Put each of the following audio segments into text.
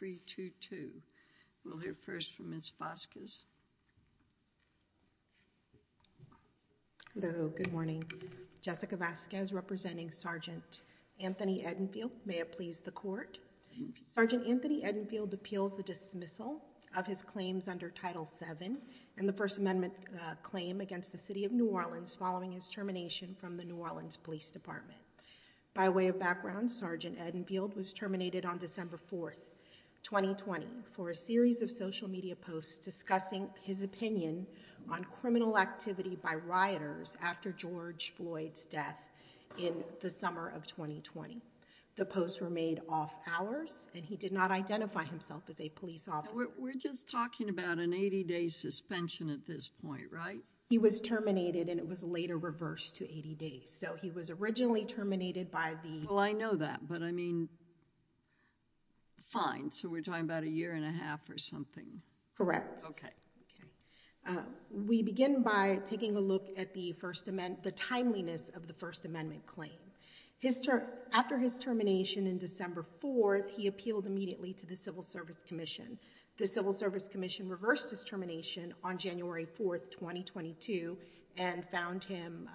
3-2-2. We'll hear first from Ms. Vazquez. Hello, good morning. Jessica Vazquez representing Sgt. Anthony Edenfield. May it please the court. Sgt. Anthony Edenfield appeals the dismissal of his claims under Title VII and the First Amendment claim against the City of New Orleans following his termination from the New Orleans Police Department. By way of background, Sgt. Edenfield was terminated on December 4, 2020 for a series of social media posts discussing his opinion on criminal activity by rioters after George Floyd's death in the summer of 2020. The posts were made off hours and he did not identify himself as a police officer. We're just talking about an 80-day suspension at this point, right? He was terminated and it was later reversed to 80 days. So, he was originally terminated by the... Well, I know that, but I mean, fine. So, we're talking about a year and a half or something. Correct. Okay. We begin by taking a look at the First Amendment, the timeliness of the First Amendment claim. His term, after his termination in December 4, he appealed immediately to the Civil Service Commission. The Civil Service Commission reversed his termination on January 4, 2022 and found him...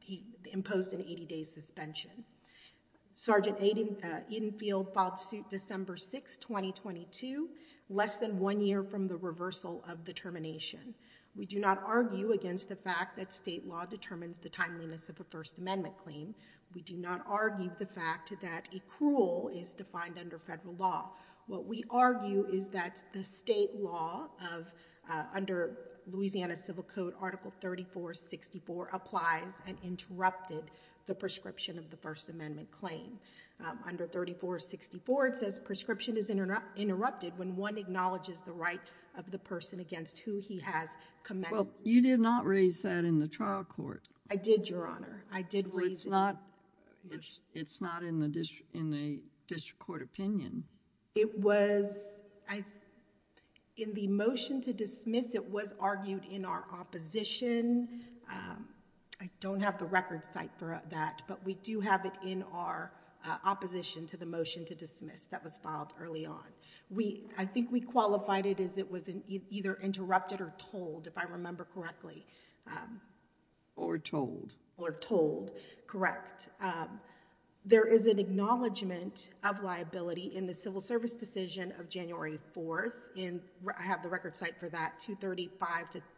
He imposed an 80-day suspension. Sgt. Edenfield filed suit December 6, 2022, less than one year from the reversal of the termination. We do not argue against the fact that state law determines the timeliness of a First Amendment claim. We do not argue the fact that a cruel is defined under federal law. What we argue is that the state law of, under Louisiana Civil Code, Article 34-64 applies and interrupted the prescription of the First Amendment claim. Under 34-64, it says, prescription is interrupted when one acknowledges the right of the person against who he has commenced... Well, you did not raise that in the trial court. I did, Your Honor. I did raise... Well, it's not, it's not in the district, in the district court opinion. It was, in the motion to dismiss, it was argued in our opposition. I don't have the record site for that, but we do have it in our opposition to the motion to dismiss that was filed early on. We, I think we qualified it as it was either interrupted or told, if I remember correctly. Or told. Or told, correct. There is an acknowledgement of liability in the civil service decision of January 4th, and I have the record site for that,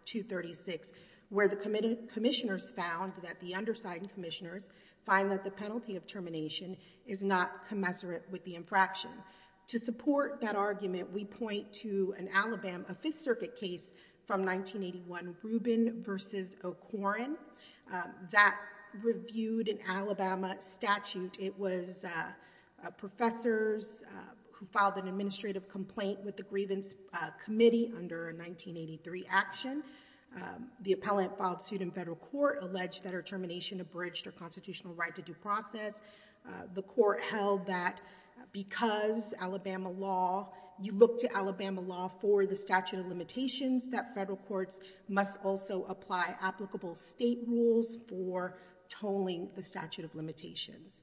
235-236, where the commissioners found that the undersigned commissioners find that the penalty of termination is not commensurate with the infraction. To support that argument, we point to an Alabama Fifth Circuit case from 1981, Rubin v. O'Corin. That reviewed an Alabama statute. It was professors who filed an administrative complaint with the grievance committee under a 1983 action. The appellant filed suit in federal court, alleged that her termination abridged her constitutional right to due process. The court held that because Alabama law, you look to Alabama law for the statute of limitations, that federal courts must also apply applicable state rules for tolling the statute of limitations.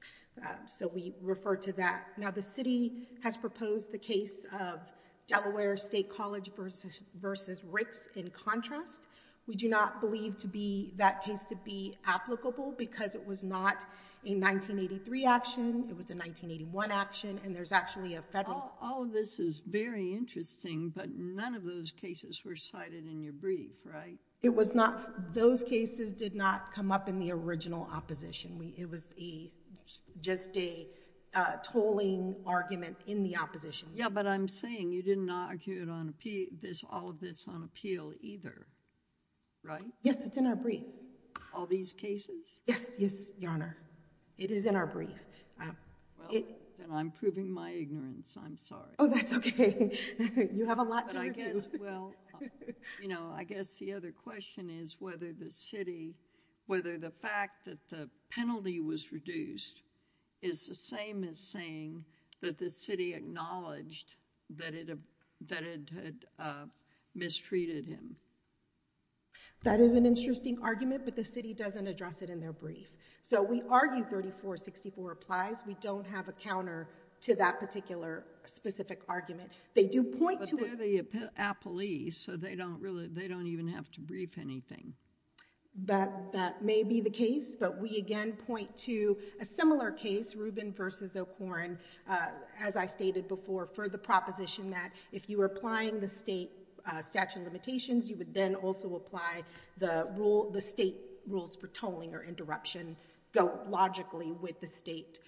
So we refer to that. Now, the city has proposed the case of Delaware State College v. Ricks in contrast. We do not believe to be, that case to be applicable because it was not a 1983 action. It was a 1981 action, and there's actually a federal... All of this is very interesting, but none of those cases were cited in your brief, right? It was not. Those cases did not come up in the original opposition. It was just a tolling argument in the opposition. Yeah, but I'm saying you did not argue all of this on appeal either, right? Yes, it's in our brief. All these cases? Yes, yes, Your Honor. It is in our brief. Well, then I'm proving my ignorance. I'm sorry. Oh, that's okay. You have a lot to review. Well, you know, I guess the other question is whether the city, whether the fact that the penalty was reduced is the same as saying that the city acknowledged that it had mistreated him. That is an interesting argument, but the city doesn't address it in their So we argue 34-64 applies. We don't have a counter to that particular specific argument. They do point to... But they're the appellees, so they don't even have to brief anything. That may be the case, but we again point to a similar case, Rubin v. O'Korne, as I stated before, for the proposition that if you were applying the state statute of limitations, you would then also apply the state rules for tolling or interruption, go logically with the state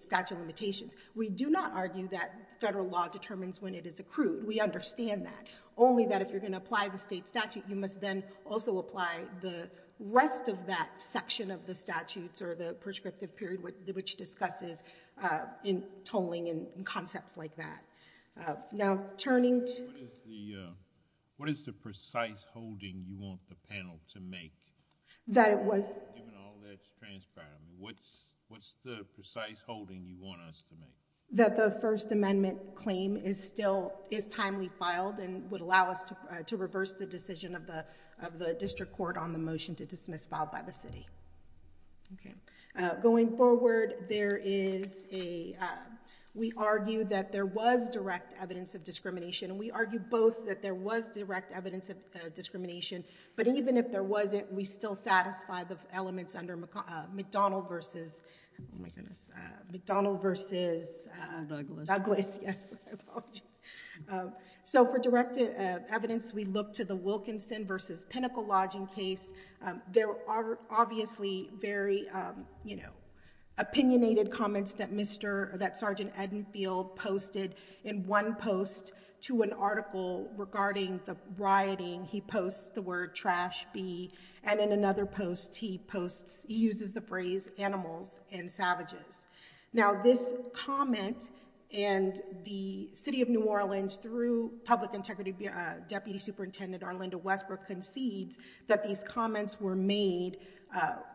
statute of limitations. We do not argue that federal law determines when it is accrued. We understand that. Only that if you're going to apply the state statute, you must then also apply the rest of that section of the statutes or the prescriptive period which discusses tolling and concepts like that. Now, turning to... What is the precise holding you want the panel to make? That it was... Given all that's transpired, what's the precise holding you want us to make? That the First Amendment claim is still... is timely filed and would allow us to reverse the decision of the district court on the motion to dismiss filed by the city. Okay. Going forward, there is a... we argue that there was direct evidence of discrimination. We argue both that there was direct evidence of discrimination, but even if there wasn't, we still satisfy the elements under McDonnell versus... Oh, my goodness. McDonnell versus... Douglas. Douglas, yes. I apologize. For direct evidence, we look to the Wilkinson versus Pinnacle Lodging case. There are obviously very opinionated comments that Sergeant Edenfield posted in one post to an article regarding the rioting. He posts the word trash bee, and in another post, he posts... he uses the phrase animals and savages. Now, this comment and the City of New Orleans, through Public Integrity Deputy Superintendent Arlinda Westbrook, concedes that these comments were made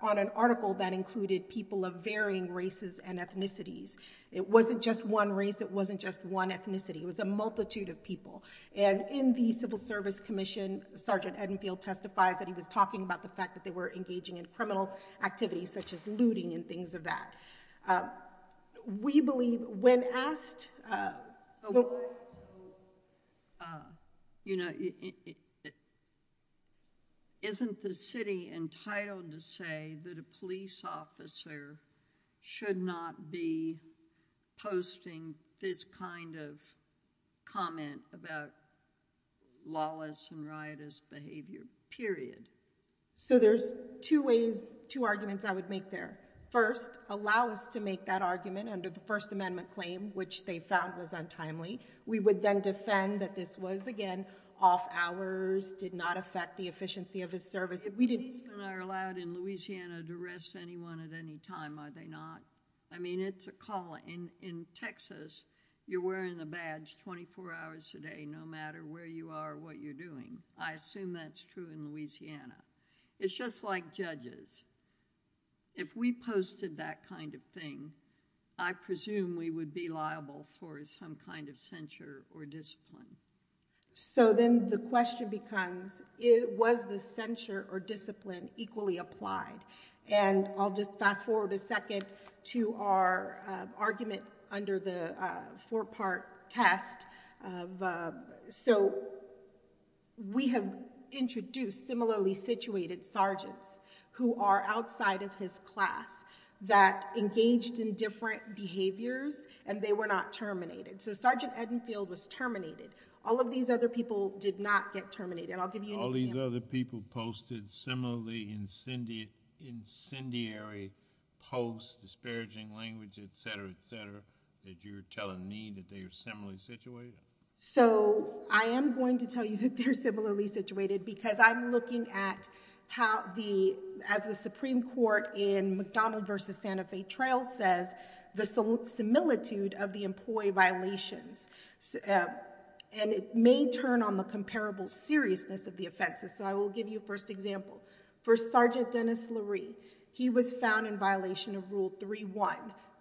on an article that included people of varying races and ethnicities. It wasn't just one race. It wasn't just one ethnicity. It was a multitude of people, and in the Civil Service Commission, Sergeant Edenfield testifies that he was talking about the fact that they were engaging in criminal activities such as looting and things of that. We believe when asked... So, you know, isn't the city entitled to say that a police officer should not be posting this kind of comment about lawless and riotous behavior, period? So there's two ways, two arguments I would make there. First, allow us to make that argument under the First Amendment claim, which they found was untimely. We would then defend that this was, again, off hours, did not affect the efficiency of his service. If policemen are allowed in Louisiana to arrest anyone at any time, are they not? I mean, it's a calling. In Texas, you're wearing the badge twenty-four hours a day, no matter where you are or what you're doing. I assume that's true in Louisiana. It's just like judges. If we posted that kind of thing, I presume we would be liable for some kind of censure or discipline. So then the question becomes, was the censure or discipline equally applied? And I'll just fast forward a second to our argument under the four-part test. So we have introduced similarly situated sergeants who are outside of his class that engaged in different behaviors, and they were not terminated. So Sergeant Edenfield was terminated. All of these other people did not get terminated. I'll give you an example. All these other people posted similarly incendiary posts, disparaging language, et cetera, et cetera, that you're telling me that they are similarly situated? So I am going to tell you that they're similarly situated because I'm looking at how the, as the Supreme Court in McDonald v. Santa Fe Trail says, the similitude of the employee violations. And it may turn on the comparable seriousness of the offenses. So I will give you a first example. For Sergeant Dennis Lurie, he was found in violation of Rule 3.1.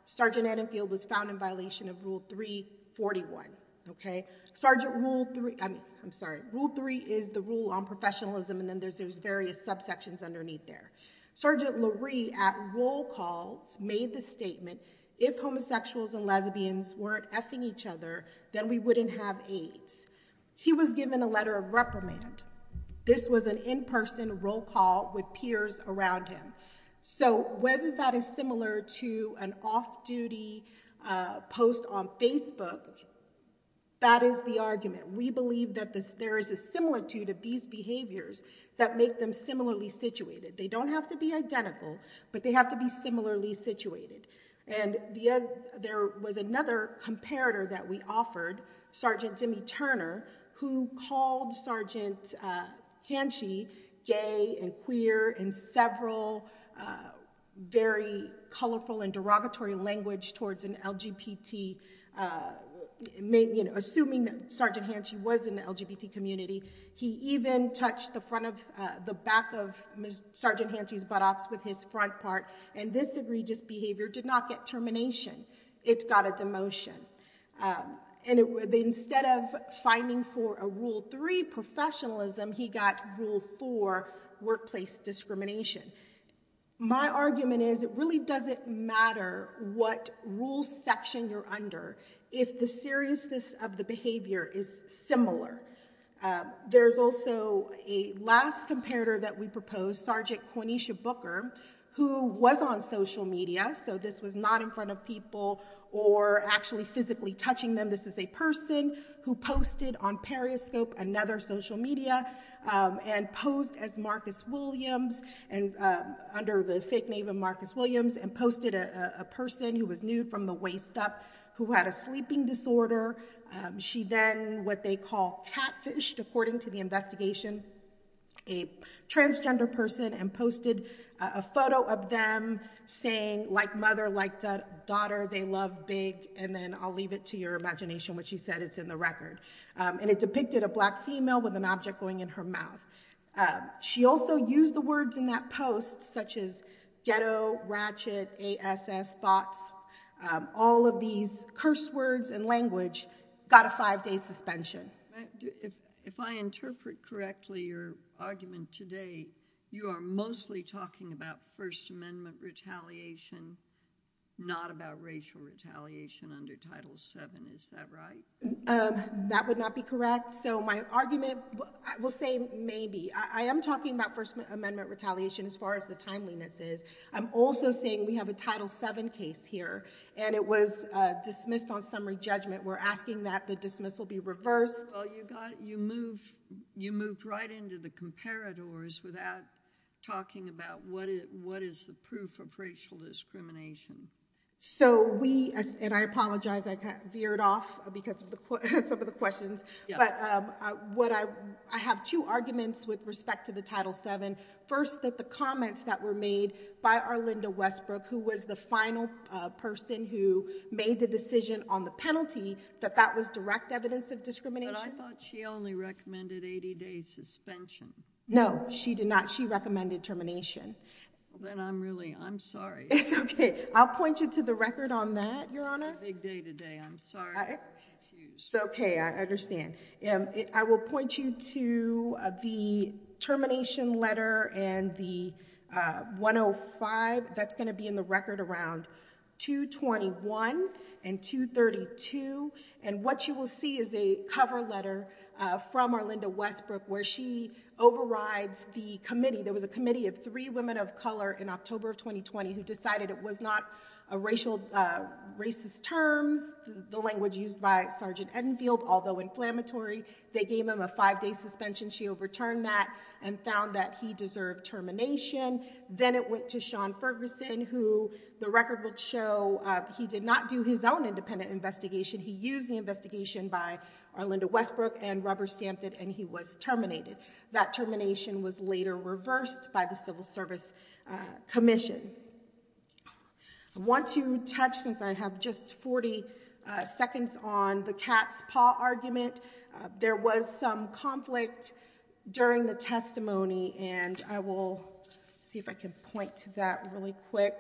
Sergeant Edenfield was found in violation of Rule 3.41, okay? Sergeant Rule 3, I mean, I'm sorry. Rule 3 is the rule on professionalism, and then there's those various subsections underneath there. Sergeant Lurie at roll calls made the statement, if homosexuals and lesbians weren't effing each other, then we wouldn't have AIDS. He was given a letter of reprimand. This was an in-person roll call with peers around him. So whether that is similar to an off-duty post on Facebook, that is the argument. We believe that there is a similitude of these behaviors that make them similarly situated. They don't have to be identical, but they have to be similarly situated. And there was another comparator that we offered, Sergeant Jimmy Turner, who called Sergeant Hanshi gay and queer in several very colorful and derogatory language towards an LGBT, assuming that Sergeant Hanshi was in the LGBT community. He even touched the back of Sergeant Hanshi's buttocks with his front part. And this egregious instead of fighting for a rule 3 professionalism, he got rule 4 workplace discrimination. My argument is it really doesn't matter what rule section you're under if the seriousness of the behavior is similar. There's also a last comparator that we proposed, Sergeant Quanisha Booker, who was on social media. So this was not in front of people or actually physically touching them. This is a person who posted on Periscope, another social media, and posed as Marcus Williams, under the fake name of Marcus Williams, and posted a person who was nude from the waist up, who had a sleeping disorder. She then, what they call catfished, according to the investigation, a transgender person, and posted a photo of them saying, like mother, like daughter, they love big, and then I'll leave it to your imagination what she said, it's in the record. And it depicted a black female with an object going in her mouth. She also used the words in that post, such as ghetto, ratchet, ASS, thoughts, all of these curse words and language, got a five-day suspension. If I interpret correctly your argument today, you are mostly talking about First Amendment retaliation, not about racial retaliation under Title VII, is that right? That would not be correct. So my argument, I will say maybe. I am talking about First Amendment retaliation as far as the timeliness is. I'm also saying we have a Title VII case here, and it was dismissed on summary judgment. We're asking that the dismissal be reversed. Well, you moved right into the comparators without talking about what is the proof of racial discrimination. So we, and I apologize, I veered off because of some of the questions, but I have two arguments with respect to the Title VII. First, that the comments that were made by Arlinda Westbrook, who was the final person who made the decision on the penalty, that that was direct evidence of discrimination. But I thought she only recommended 80-day suspension. No, she did not. She recommended termination. Well, then I'm really, I'm sorry. It's okay. I'll point you to the record on that, Your Honor. It's a big day today. I'm sorry. It's okay. I understand. I will point you to the termination letter and the 105. That's going to be in the record around 221 and 232. And what you will see is a cover letter from Arlinda Westbrook where she overrides the committee. There was a committee of three women of color in October of 2020 who decided it was not a racial, racist terms, the language used by Sergeant Enfield, although inflammatory. They gave him a five-day suspension. She overturned that and found that he deserved termination. Then it went to Sean Ferguson, who the record would show he did not do his own independent investigation. He used the investigation by Arlinda Westbrook and rubber-stamped it and he was terminated. That termination was later reversed by the Civil Service Commission. I want to touch, since I have just 40 seconds on the cat's paw argument, there was some conflict during the testimony, and I will see if I can point to that really quick,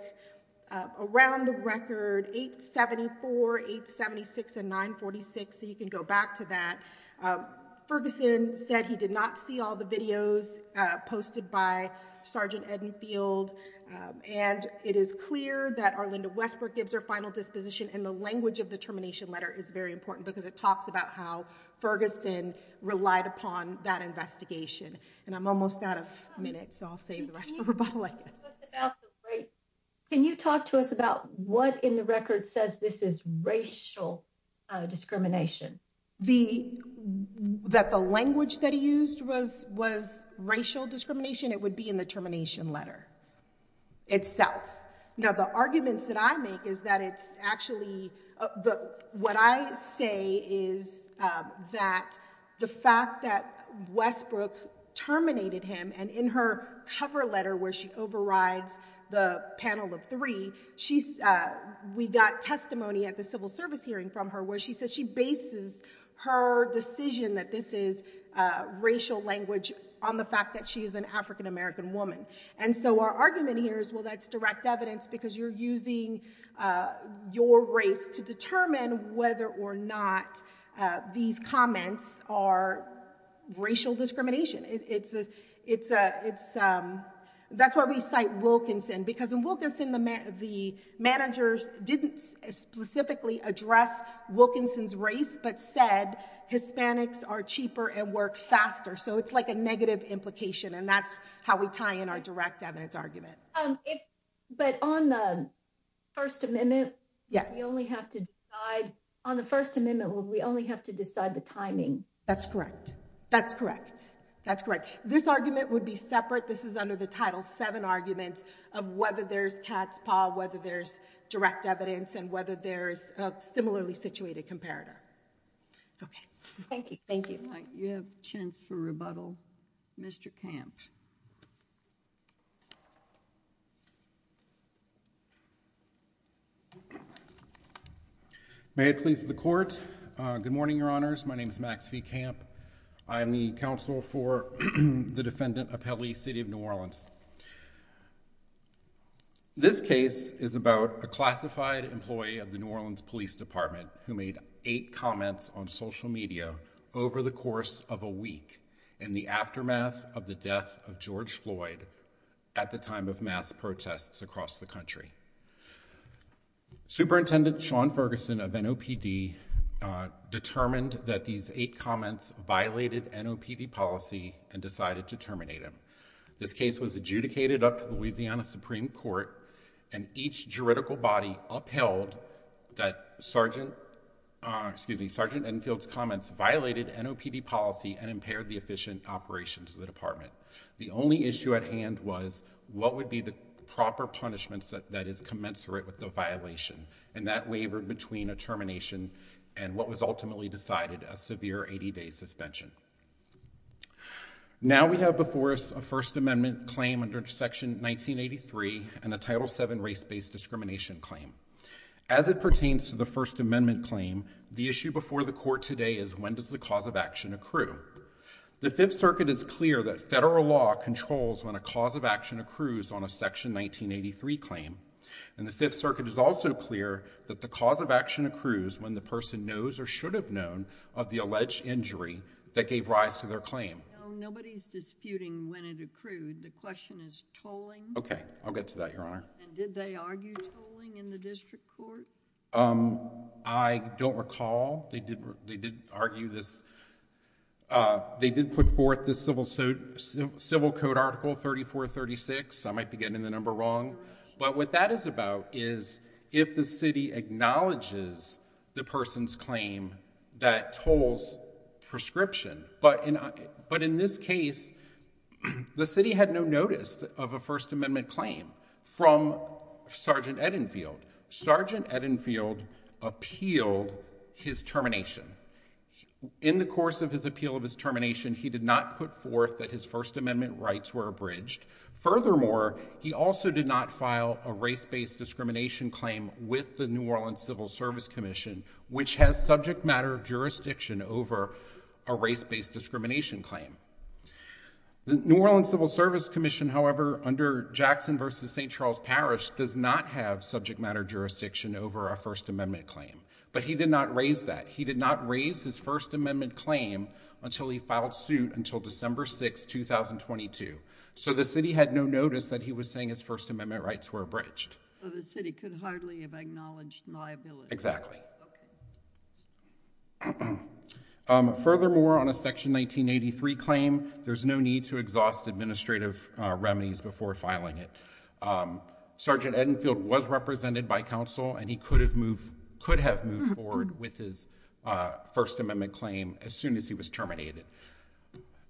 around the record 874, 876, and 946, so you can go back to that. Ferguson said he did not see all the videos posted by Sergeant Enfield. It is clear that Arlinda Westbrook gives her final disposition, and the language of the termination letter is very important because it talks about how Ferguson relied upon that investigation. I'm almost out of minutes, so I'll save the rest for rebuttal, I guess. Can you talk to us about what in the record says this is racial discrimination? That the language that he used was racial discrimination? It would be in the termination letter itself. Now the arguments that I make is that it's actually, what I say is that the fact that Westbrook terminated him, and in her cover letter where she overrides the panel of three, we got testimony at the civil service hearing from her where she says she bases her decision that this is racial language on the fact that she is an African American woman, and so our argument here is well that's direct evidence because you're using your race to determine whether or not these comments are racial discrimination. That's why we cite Wilkinson, because in Wilkinson, the managers didn't specifically address Wilkinson's race, but said Hispanics are cheaper and work faster, so it's like a negative implication, and that's how we tie in our direct evidence argument. But on the First Amendment, we only have to decide the timing. That's correct. That's correct. That's correct. This argument would be separate. This is under the Title VII argument of whether there's cat's paw, whether there's direct evidence, and whether there's a similarly situated comparator. Okay. Thank you. Thank you. You have a chance for rebuttal. Mr. Kamp. May it please the Court. Good morning, Your Honors. My name is Max V. Kamp. I am the counsel for the defendant, Apelli, City of New Orleans. This case is about a classified employee of the New Orleans Police Department who made eight comments on social media over the course of a week in the aftermath of the death of George Floyd at the time of mass protests across the country. Superintendent Sean Ferguson of NOPD determined that these eight comments violated NOPD policy and decided to terminate him. This case was adjudicated up to Louisiana Supreme Court, and each juridical body upheld that Sergeant Enfield's comments violated NOPD policy and impaired the efficient operations of the department. The only issue at hand was what would be the proper punishments that is commensurate with the violation, and that wavered between a termination and what was ultimately decided, a severe 80-day suspension. Now we have before us a First Amendment claim under Section 1983 and a Title VII race-based discrimination claim. As it pertains to the First Amendment claim, the issue before the Court today is when does the cause of action accrue? The Fifth Circuit is clear that federal law controls when a action accrues on a Section 1983 claim, and the Fifth Circuit is also clear that the cause of action accrues when the person knows or should have known of the alleged injury that gave rise to their claim. Nobody's disputing when it accrued. The question is tolling? Okay, I'll get to that, Your Honor. And did they argue tolling in the district court? I don't recall. They did put forth this Civil Code Article 3436. I might be getting the number wrong. But what that is about is if the city acknowledges the person's claim that tolls prescription. But in this case, the city had no notice of a First Amendment claim from Sergeant Edenfield. Sergeant Edenfield appealed his termination. In the course of his appeal of his termination, he did not put forth that his First Amendment rights were abridged. Furthermore, he also did not file a race-based discrimination claim with the New Orleans Civil Service Commission, which has subject matter jurisdiction over a race-based discrimination claim. The New Orleans Civil Service Commission, however, under Jackson v. St. Charles Parish does not have subject matter jurisdiction over a First Amendment claim. But he did not raise that. He did not raise his First Amendment claim until he filed suit until December 6, 2022. So the city had no notice that he was saying his First Amendment rights were abridged. So the city could hardly have acknowledged liability. Exactly. Furthermore, on a Section 1983 claim, there's no need to exhaust administrative remedies before filing it. Sergeant Edenfield was represented by counsel and he could have moved, could have moved forward with his First Amendment claim as soon as he was terminated.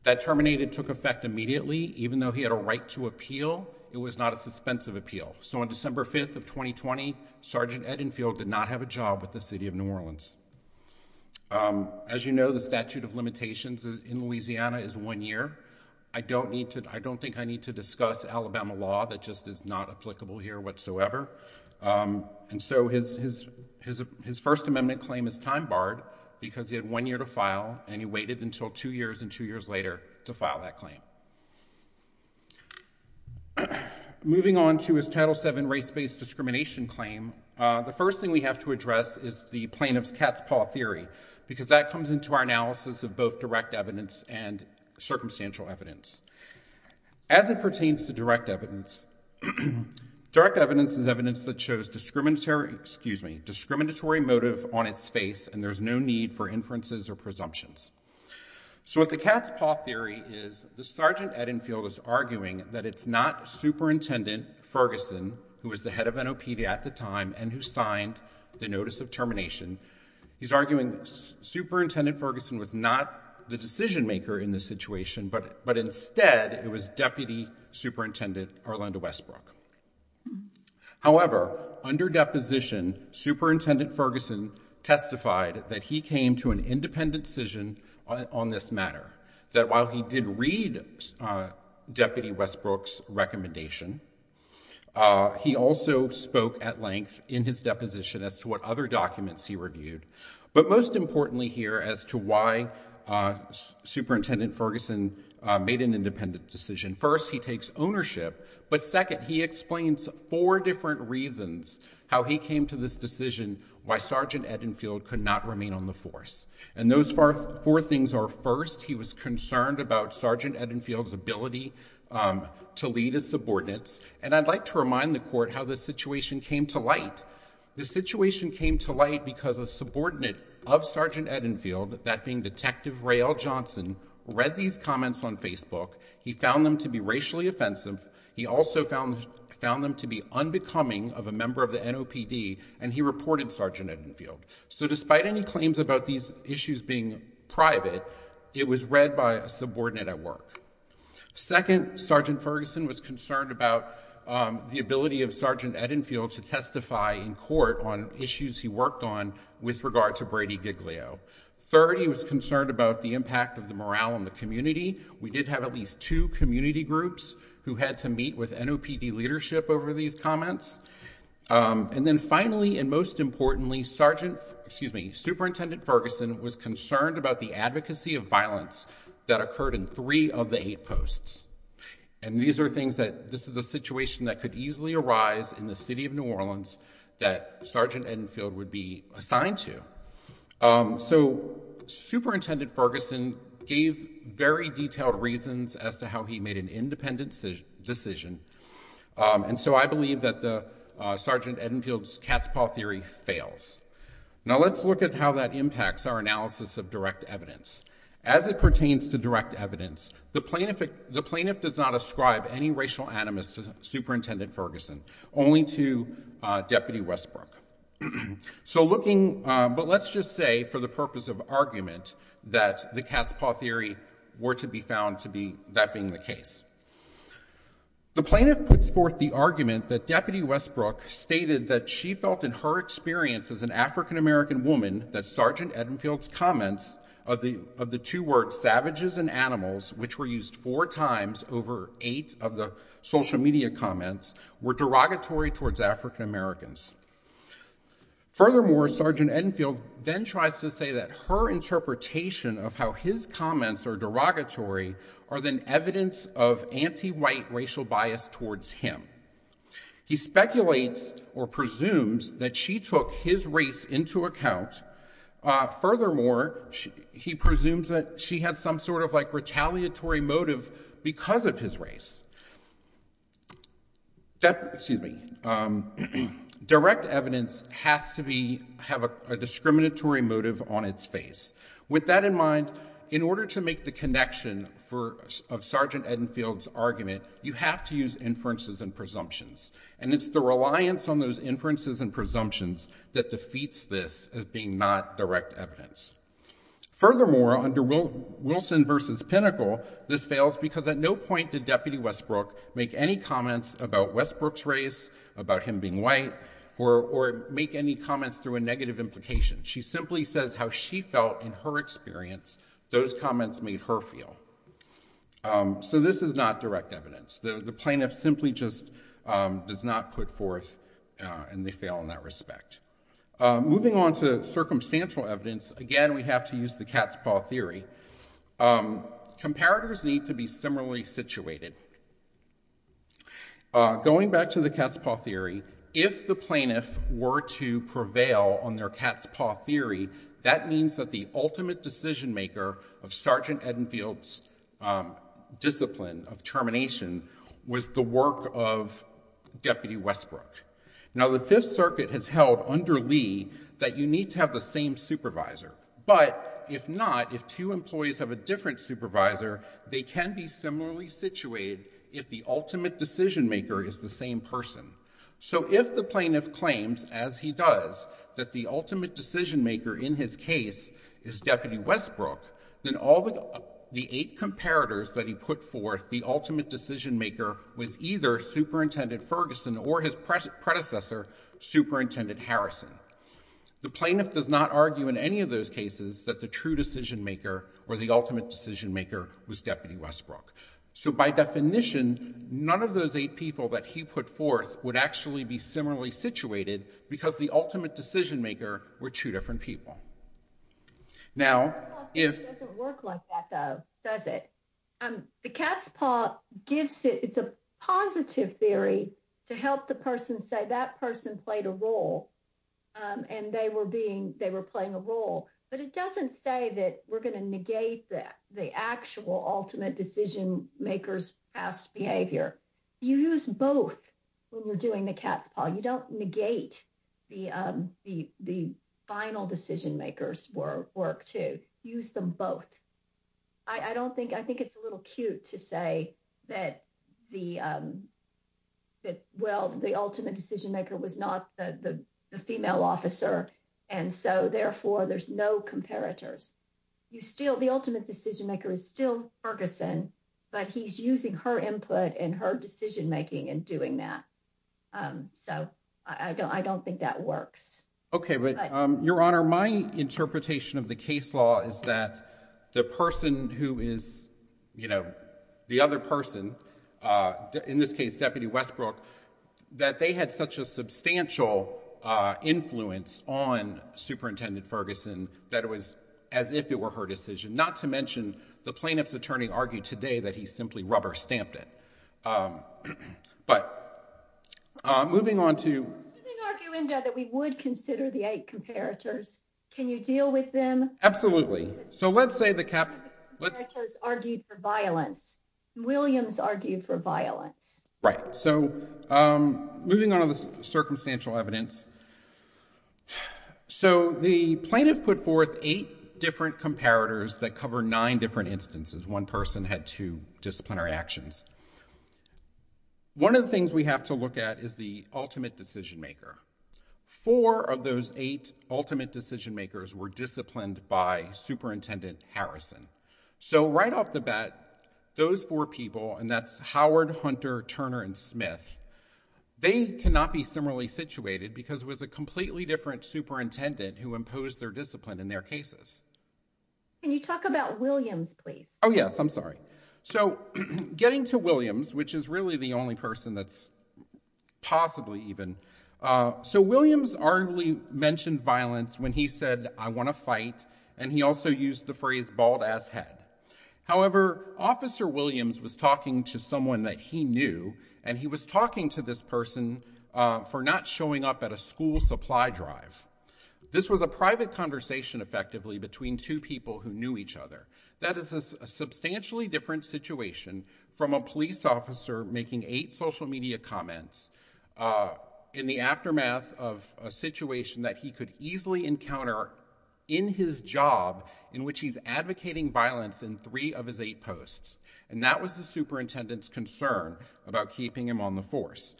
That terminated took effect immediately. Even though he had a right to appeal, it was not a suspensive appeal. So on December 5, 2020, Sergeant Edenfield did not have a job with the city of New Orleans. As you know, the statute of limitations in Louisiana is one year. I don't need to, I don't think I need to discuss Alabama law that just is not applicable here whatsoever. And so his First Amendment claim is time barred because he had one year to file and he waited until two years and two years later to file that claim. Moving on to his Title VII race-based discrimination claim, the first thing we have to address is the plaintiff's cat's paw theory, because that comes into our analysis of both direct evidence and circumstantial evidence. As it pertains to direct evidence, direct evidence is evidence that shows discriminatory, excuse me, discriminatory motive on its face and there's no need for inferences or presumptions. So what the cat's paw theory is, the Sergeant Edenfield is arguing that it's not Superintendent Ferguson, who was the head of NOPD at the time and who signed the notice of termination. He's arguing that Superintendent Ferguson was not the decision maker in this situation, but instead it was Deputy Superintendent Orlando Westbrook. However, under deposition, Superintendent Ferguson testified that he came to an independent decision on this matter, that while he did read Deputy Westbrook's recommendation, he also spoke at length in his deposition as to what other documents he reviewed. But most importantly here as to why Superintendent Ferguson made an independent decision. First, he takes ownership, but second, he explains four different reasons how he came to this decision, why Sergeant Edenfield could not remain on the force. And those four things are, first, he was concerned about Sergeant Edenfield's ability to lead his subordinates. And I'd like to remind the Court how this situation came to light. The situation came to light because a subordinate of Sergeant Edenfield, that being Detective Ray L. Johnson, read these comments on Facebook. He found them to be racially found them to be unbecoming of a member of the NOPD, and he reported Sergeant Edenfield. So despite any claims about these issues being private, it was read by a subordinate at work. Second, Sergeant Ferguson was concerned about the ability of Sergeant Edenfield to testify in court on issues he worked on with regard to Brady Giglio. Third, he was concerned about the impact of the morale in the community. We did have at least two community groups who had to meet with NOPD leadership over these comments. And then finally, and most importantly, Superintendent Ferguson was concerned about the advocacy of violence that occurred in three of the eight posts. And these are things that this is a situation that could easily arise in the City of New Orleans that Sergeant Edenfield would be assigned to. So Superintendent Ferguson gave very detailed reasons as to how he made an independent decision. And so I believe that the Sergeant Edenfield's cat's paw theory fails. Now let's look at how that impacts our analysis of direct evidence. As it pertains to direct evidence, the plaintiff does not ascribe any racial animus to Superintendent Ferguson, only to Deputy Westbrook. So looking, but let's just say for the purpose of argument that the cat's paw theory were to be found to be that being the case. The plaintiff puts forth the argument that Deputy Westbrook stated that she felt in her experience as an African-American woman that Sergeant Edenfield's comments of the two words, savages and animals, which were used four times over eight of the social media comments, were derogatory towards African-Americans. Furthermore, Sergeant Edenfield then tries to say that her interpretation of how his comments are derogatory are then evidence of anti-white racial bias towards him. He speculates or presumes that she took his race into account. Furthermore, he presumes that she had some sort of like retaliatory motive because of his race. Excuse me. Direct evidence has to have a discriminatory motive on its face. With that in mind, in order to make the connection of Sergeant Edenfield's argument, you have to use inferences and presumptions. And it's the reliance on those inferences and presumptions that defeats this as being not direct evidence. Furthermore, under Wilson versus Pinnacle, this fails because at no point did Deputy Westbrook make any comments about Westbrook's race, about him being white, or make any comments through a negative implication. She simply says how she felt in her experience. Those comments made her feel. So this is not direct evidence. The plaintiff simply just does not put forth and they fail in that respect. Moving on to circumstantial evidence, again, we have to use the cat's paw theory. Comparators need to be similarly situated. Going back to the cat's paw theory, if the plaintiff were to prevail on their cat's paw theory, that means that the ultimate decision maker of Sergeant Edenfield's discipline of termination was the work of Deputy Westbrook. Now, the Fifth Circuit has held under Lee that you need to have the same supervisor. But if not, if two employees have a different supervisor, they can be similarly situated if the ultimate decision maker is the same person. So if the plaintiff claims, as he does, that the ultimate decision maker in his case is Deputy Westbrook, then all the eight comparators that he put forth, the ultimate decision maker was either Superintendent Ferguson or his predecessor, Superintendent Harrison. The plaintiff does not argue in any of those cases that the true decision maker or the ultimate decision maker was Deputy Westbrook. So by definition, none of those eight people that he put forth would actually be similarly situated because the ultimate decision maker were two different people. Now, if... The cat's paw theory doesn't work like that though, does it? The cat's paw gives it, it's a positive theory to help the person say that person played a role and they were being, they were playing a role. But it doesn't say that we're going to negate the actual ultimate decision maker's past behavior. You use both when you're doing the cat's paw. You don't negate the the final decision maker's work too. Use them both. I don't think, I think it's a little cute to say that the, well, the ultimate decision maker was not the female officer and so therefore there's no comparators. You still, the ultimate decision maker is still Ferguson, but he's using her input and her decision making and doing that. So I don't, I don't think that works. Okay, but Your Honor, my interpretation of the case law is that the person who is, you know, the other person, in this case, Deputy Westbrook, that they had such a substantial influence on Superintendent Ferguson that it was as if it were her decision, not to mention the plaintiff's attorney argued today that he simply rubber stamped it. But, moving on to... I'm assuming, Arguendo, that we would consider the eight comparators. Can you deal with them? Absolutely. So let's say the... The eight comparators argued for violence. Williams argued for violence. Right. So moving on to the circumstantial evidence. So the plaintiff put forth eight different comparators that cover nine different instances. One person had two disciplinary actions. One of the things we have to look at is the ultimate decision maker. Four of those eight ultimate decision makers were disciplined by Superintendent Harrison. So right off the bat, those four people, and that's Howard, Hunter, Turner, and Smith, they cannot be similarly situated because it was a completely different superintendent who imposed their discipline in their cases. Can you talk about Williams, please? Yes, I'm sorry. So getting to Williams, which is really the only person that's possibly even... So Williams arguably mentioned violence when he said, I want to fight, and he also used the phrase bald ass head. However, Officer Williams was talking to someone that he knew, and he was talking to this person for not showing up at a school supply drive. This was a private conversation effectively between two people who knew each other. That is a substantially different situation from a police officer making eight social media comments in the aftermath of a situation that he could easily encounter in his job in which he's advocating violence in three of his eight posts. And that was the superintendent's concern about keeping him on the force.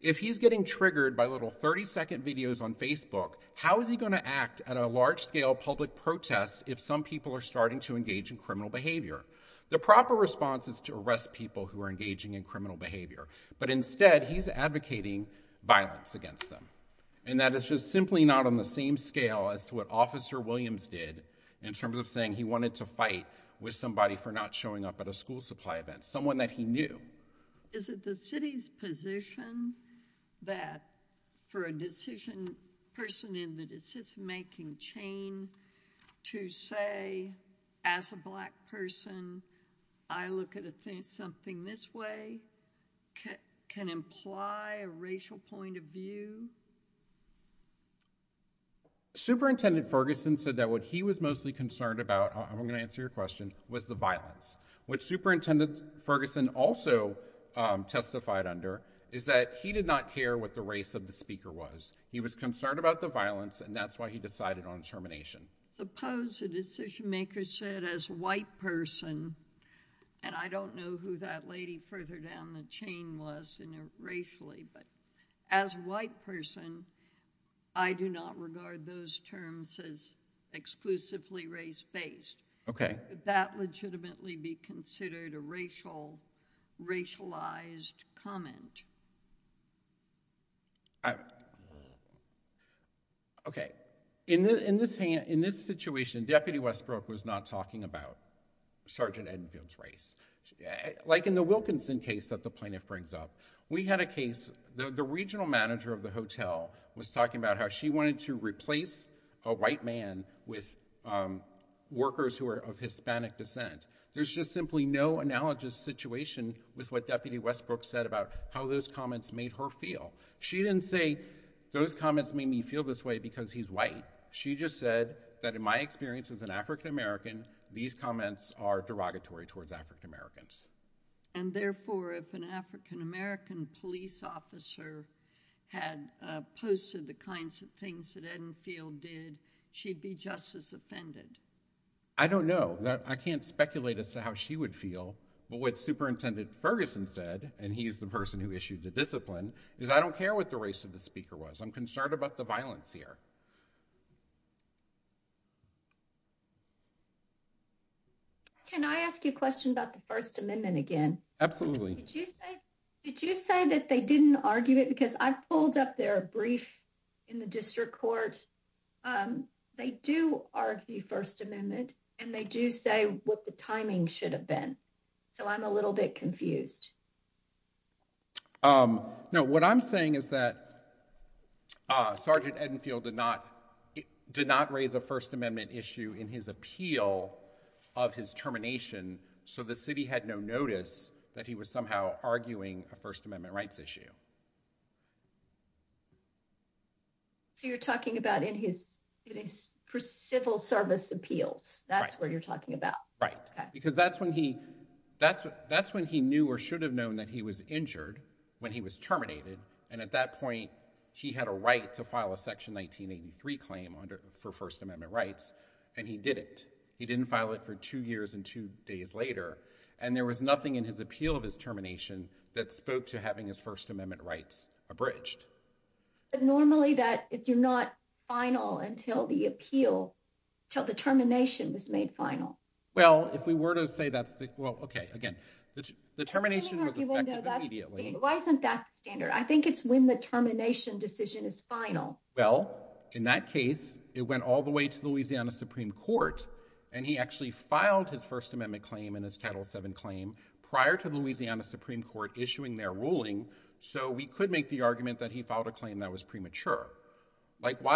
If he's getting triggered by little 30 second videos on Facebook, how is he going to act at a large scale public protest if some people are starting to engage in criminal behavior? The proper response is to arrest people who are engaging in criminal behavior, but instead he's advocating violence against them. And that is just simply not on the same scale as to what Officer Williams did in terms of saying he wanted to fight with somebody for not showing up at a school supply event, someone that he knew. Is it the city's position that for a decision person in the decision-making chain to say, as a black person, I look at something this way can imply a racial point of view? Superintendent Ferguson said that what he was mostly concerned about, I'm going to answer your question, was the violence. What Superintendent Ferguson also testified under is that he did not care what the race of the speaker was. He was concerned about the violence and that's why he decided on termination. Suppose a decision maker said as a white person, and I don't know who that lady further down the chain was racially, but as a white person, I do not regard those terms as exclusively race-based. Could that legitimately be considered a racial, racialized comment? Okay. In this situation, Deputy Westbrook was not talking about Sergeant Edenfield's race. Like in the Wilkinson case that the plaintiff brings up, we had a case, the regional manager of the hotel was talking about how she wanted to replace a white man with workers who are of Hispanic descent. There's just simply no analogous situation with what Deputy Westbrook said about how those comments made her feel. She didn't say those comments made me feel this way because he's white. She just said that in my experience as an African-American, these comments are derogatory towards African-Americans. And therefore, if an African-American police officer had posted the kinds of things that Edenfield did, she'd be just as offended. I don't know. I can't speculate as to how she would feel, but what Superintendent Ferguson said, and he's the person who issued the discipline, is I don't care what the race of the speaker was. I'm concerned about the violence here. Can I ask you a question about the First Amendment again? Absolutely. Did you say, did you say that they didn't argue it? Because I pulled up their brief in the district court. They do argue First Amendment, and they do say what the timing should have been. So I'm a little bit confused. No, what I'm saying is that Sergeant Edenfield did not raise a First Amendment issue in his appeal of his termination, so the city had no notice that he was somehow arguing a First Amendment rights issue. So you're talking about in his civil service appeals. That's what you're talking about. Right. Because that's when he, that's when he knew or should have known that he was injured when he was terminated, and at that point, he had a right to file a Section 1983 claim for First Amendment rights, and he didn't. He didn't file it for two years and two days later, and there was nothing in his appeal of his termination that spoke to having his First Amendment rights. So it's presumably that if you're not final until the appeal, till the termination was made final. Well, if we were to say that's the, well, okay, again, the termination was effective immediately. Why isn't that standard? I think it's when the termination decision is final. Well, in that case, it went all the way to Louisiana Supreme Court, and he actually filed his First Amendment claim and his Title VII claim prior to Louisiana Supreme Court. Why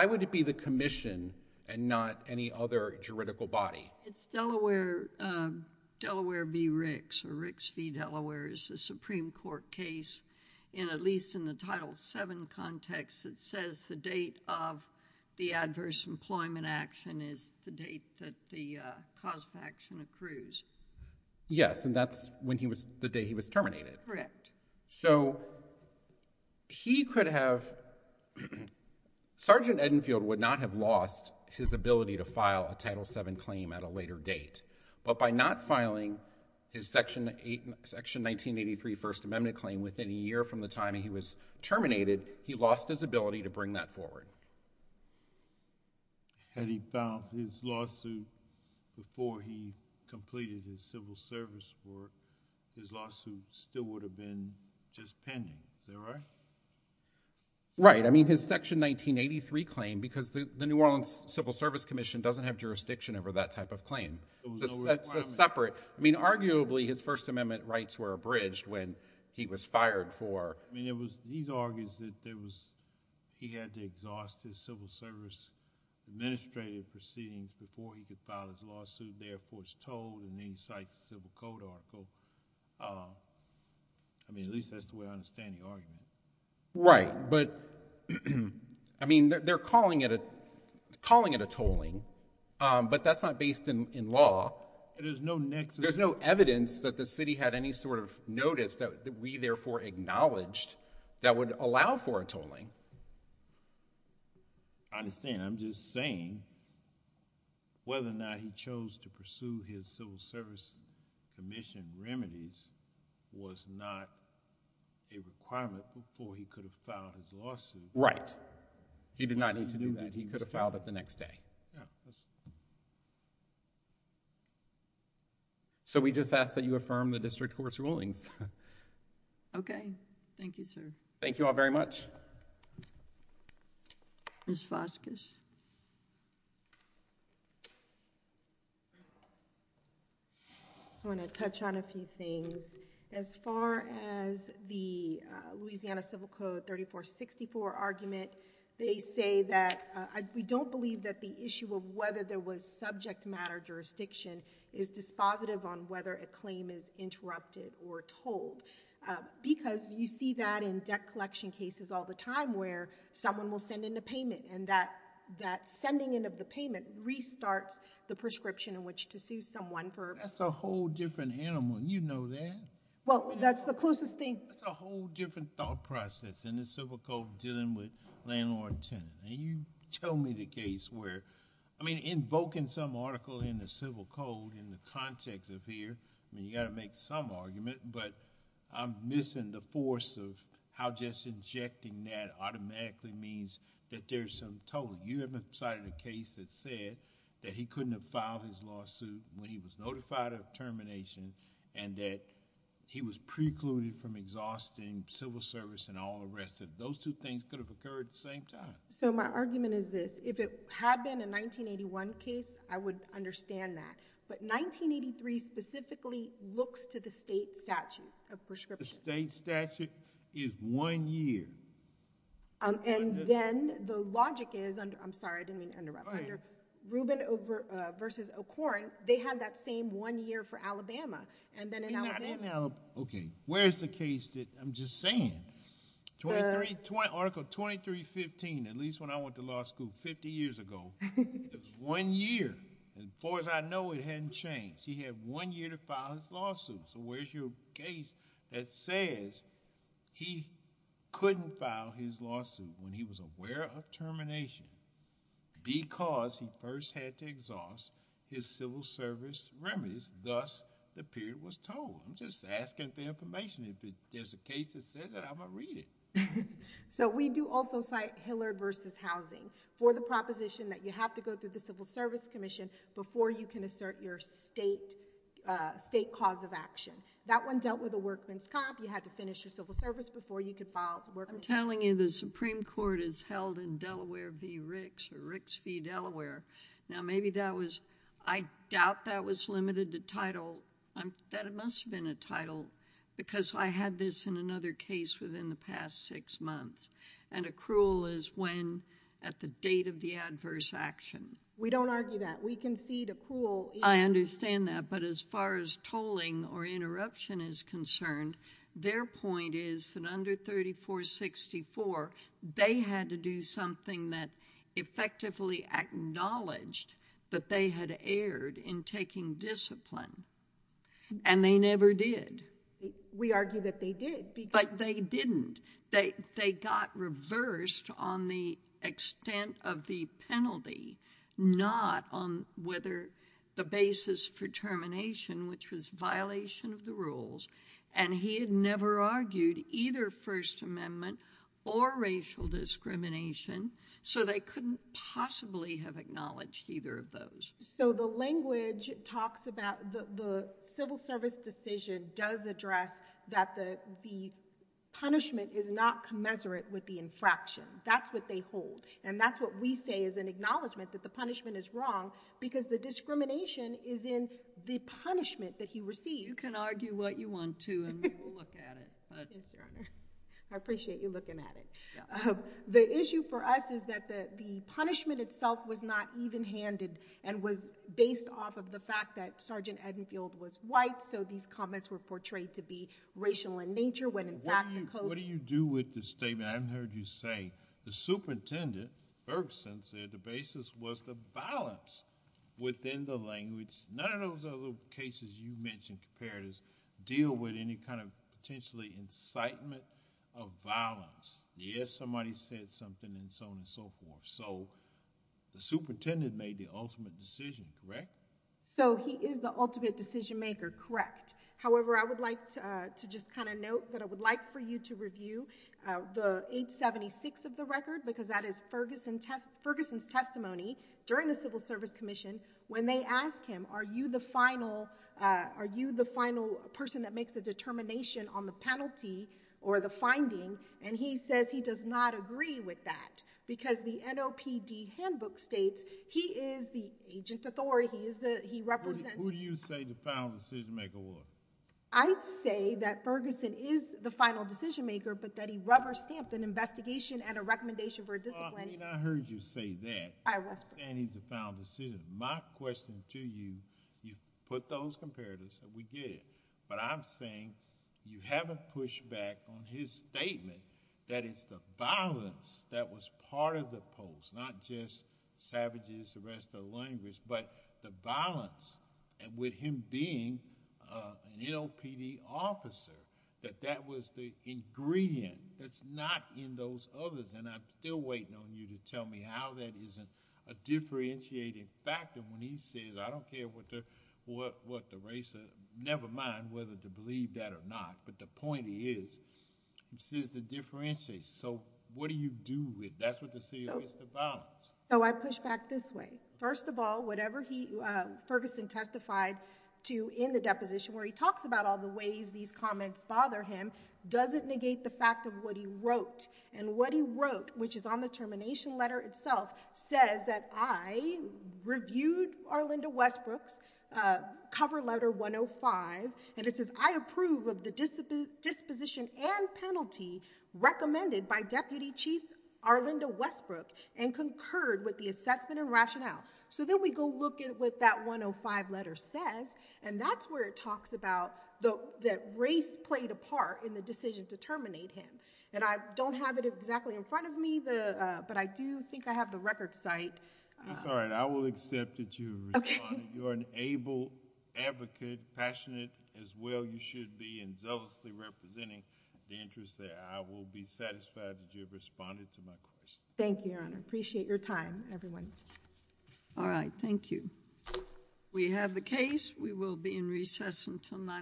would it be the commission and not any other juridical body? It's Delaware v. Ricks, or Ricks v. Delaware is the Supreme Court case, and at least in the Title VII context, it says the date of the adverse employment action is the date that the cause of action accrues. Yes, and that's when he was, the day he was terminated. Correct. So he could have, Sergeant Edenfield would not have lost his ability to file a Title VII claim at a later date, but by not filing his Section 1983 First Amendment claim within a year from the time he was terminated, he lost his ability to bring that forward. Had he filed his lawsuit before he completed his civil service work, his lawsuit still would have been just pending. Is that right? Right. I mean, his Section 1983 claim, because the New Orleans Civil Service Commission doesn't have jurisdiction over that type of claim. It's a separate, I mean, arguably, his First Amendment rights were abridged when he was fired for. I mean, it was, he argues that there was, he had to exhaust his civil service administrative proceedings before he could file his lawsuit, therefore it's tolled, and then he cites the Civil Code article. I mean, at least that's the way I understand the argument. Right, but, I mean, they're calling it a tolling, but that's not based in law. There's no nexus. There's no evidence that the city had any sort of notice that we, therefore, acknowledged that would allow for a tolling. I understand. I'm just saying whether or not he chose to pursue his civil service commission remedies was not a requirement before he could have filed his lawsuit. Right. He did not need to do that. He could have filed it the next day. So, we just ask that you affirm the district court's rulings. Okay. Thank you, sir. Thank you all very much. Ms. Vasquez. I just want to touch on a few things. As far as the Louisiana Civil Code 3464 argument, they say that we don't believe that the issue of whether there was subject matter jurisdiction is dispositive on whether a claim is interrupted or tolled, because you see that in debt collection cases all the time where someone will send in a payment, and that sending in of the payment restarts the prescription in which to sue someone for... That's a whole different animal. You know that. Well, that's the closest thing... That's a whole different thought process in the Civil Code dealing with landlord-tenant, and you tell me the case where... I mean, invoking some article in the Civil Code in the context of here, I mean, you got to make some argument, but I'm missing the force of how just injecting that automatically means that there's some toll. You haven't cited a case that said that he couldn't have filed his lawsuit when he was notified of termination and that he was precluded from exhausting civil service and all the rest of... Those two things could have occurred at the same time. So, my argument is this. If it had been a 1981 case, I would understand that, but 1983 specifically looks to the state statute of prescription. The state statute is one year. And then the logic is... I'm sorry, I didn't mean to interrupt. Under Rubin v. O'Koren, they had that same one year for Alabama, and then in Alabama... Okay, where's the case that I'm just saying? Twenty-three... Article 2315, at least when I went to law school 50 years ago, it was one year. As far as I know, it hadn't changed. He had one year to file his lawsuit. So, where's your case that says he couldn't file his lawsuit when he was aware of termination because he first had to exhaust his civil service remedies? Thus, the period was told. I'm just saying, if the case has said that, I'm going to read it. So, we do also cite Hillard v. Housing for the proposition that you have to go through the Civil Service Commission before you can assert your state cause of action. That one dealt with a workman's cop. You had to finish your civil service before you could file... I'm telling you the Supreme Court is held in Delaware v. Ricks or Ricks v. Delaware. Now, maybe that was... I doubt that was limited to title. That must have been a title because I had this in another case within the past six months, and accrual is when at the date of the adverse action. We don't argue that. We concede accrual... I understand that, but as far as tolling or interruption is concerned, their point is that under 3464, they had to do something that effectively acknowledged that they had erred in taking discipline, and they never did. We argue that they did because... But they didn't. They got reversed on the extent of the penalty, not on whether the basis for termination, which was violation of the rules, and he had never argued either First Amendment or racial discrimination, so they couldn't possibly have acknowledged either of those. So the language talks about the civil service decision does address that the punishment is not commensurate with the infraction. That's what they hold, and that's what we say is an acknowledgment that the punishment is wrong because the discrimination is in the punishment that he received. You can argue what you want to, and we will look at it. I appreciate you looking at it. The issue for us is that the punishment itself was not even-handed and was based off of the fact that Sergeant Edenfield was white, so these comments were portrayed to be racial in nature when, in fact, the coast... What do you do with the statement? I haven't heard you say. The superintendent, Bergson, said the basis was the violence within the language. None of those other cases you mentioned compared to deal with any kind of potentially incitement of violence. Yes, somebody said something and so on and so forth, so the superintendent made the ultimate decision, correct? So he is the ultimate decision maker, correct. However, I would like to just kind of note that I would like for you to review the 876 of the record because that is Ferguson's testimony during the Civil Service Commission when they ask him, are you the final person that makes the determination on the penalty or the finding, and he says he does not agree with that because the NOPD handbook states he is the agent authority. He represents... Who do you say the final decision maker was? I'd say that Ferguson is the final decision maker, but that he rubber-stamped an investigation and a recommendation for a discipline... Well, I mean, I heard you say that. I was. You're saying he's the final decision. My question to you, you put those comparatives and we get it, but I'm saying you haven't pushed back on his statement that it's the violence that was part of the post, not just savages, the rest of the language, but the violence with him being an NOPD officer, that that was the ingredient that's not in those others, and I'm still waiting on you to tell me how that isn't a differentiating factor when he says, I don't care what the race... Never mind whether to believe that or not, but the point is, he says the differentiation. So, what do you do with... That's what the C.O. is to violence. So, I push back this way. First of all, whatever Ferguson testified to in the deposition where he talks about all the ways these comments bother him doesn't negate the fact of what he wrote, and what he wrote, which is on the termination letter itself, says that I reviewed Arlinda Westbrook's cover letter 105, and it says, I approve of the disposition and penalty recommended by Deputy Chief Arlinda Westbrook and concurred with the assessment and rationale. So, then we go look at what that 105 letter says, and that's where it talks about that race played a part in the decision to terminate him, and I don't have it exactly in front of me, but I do think I have the record site. That's all right. I will accept that you responded. Okay. You're an able advocate, passionate as well you should be, and zealously representing the interests that I will be satisfied that you have responded to my question. Thank you, Your Honor. Appreciate your time, everyone. All right. Thank you. We have the case. We will be in recess until 9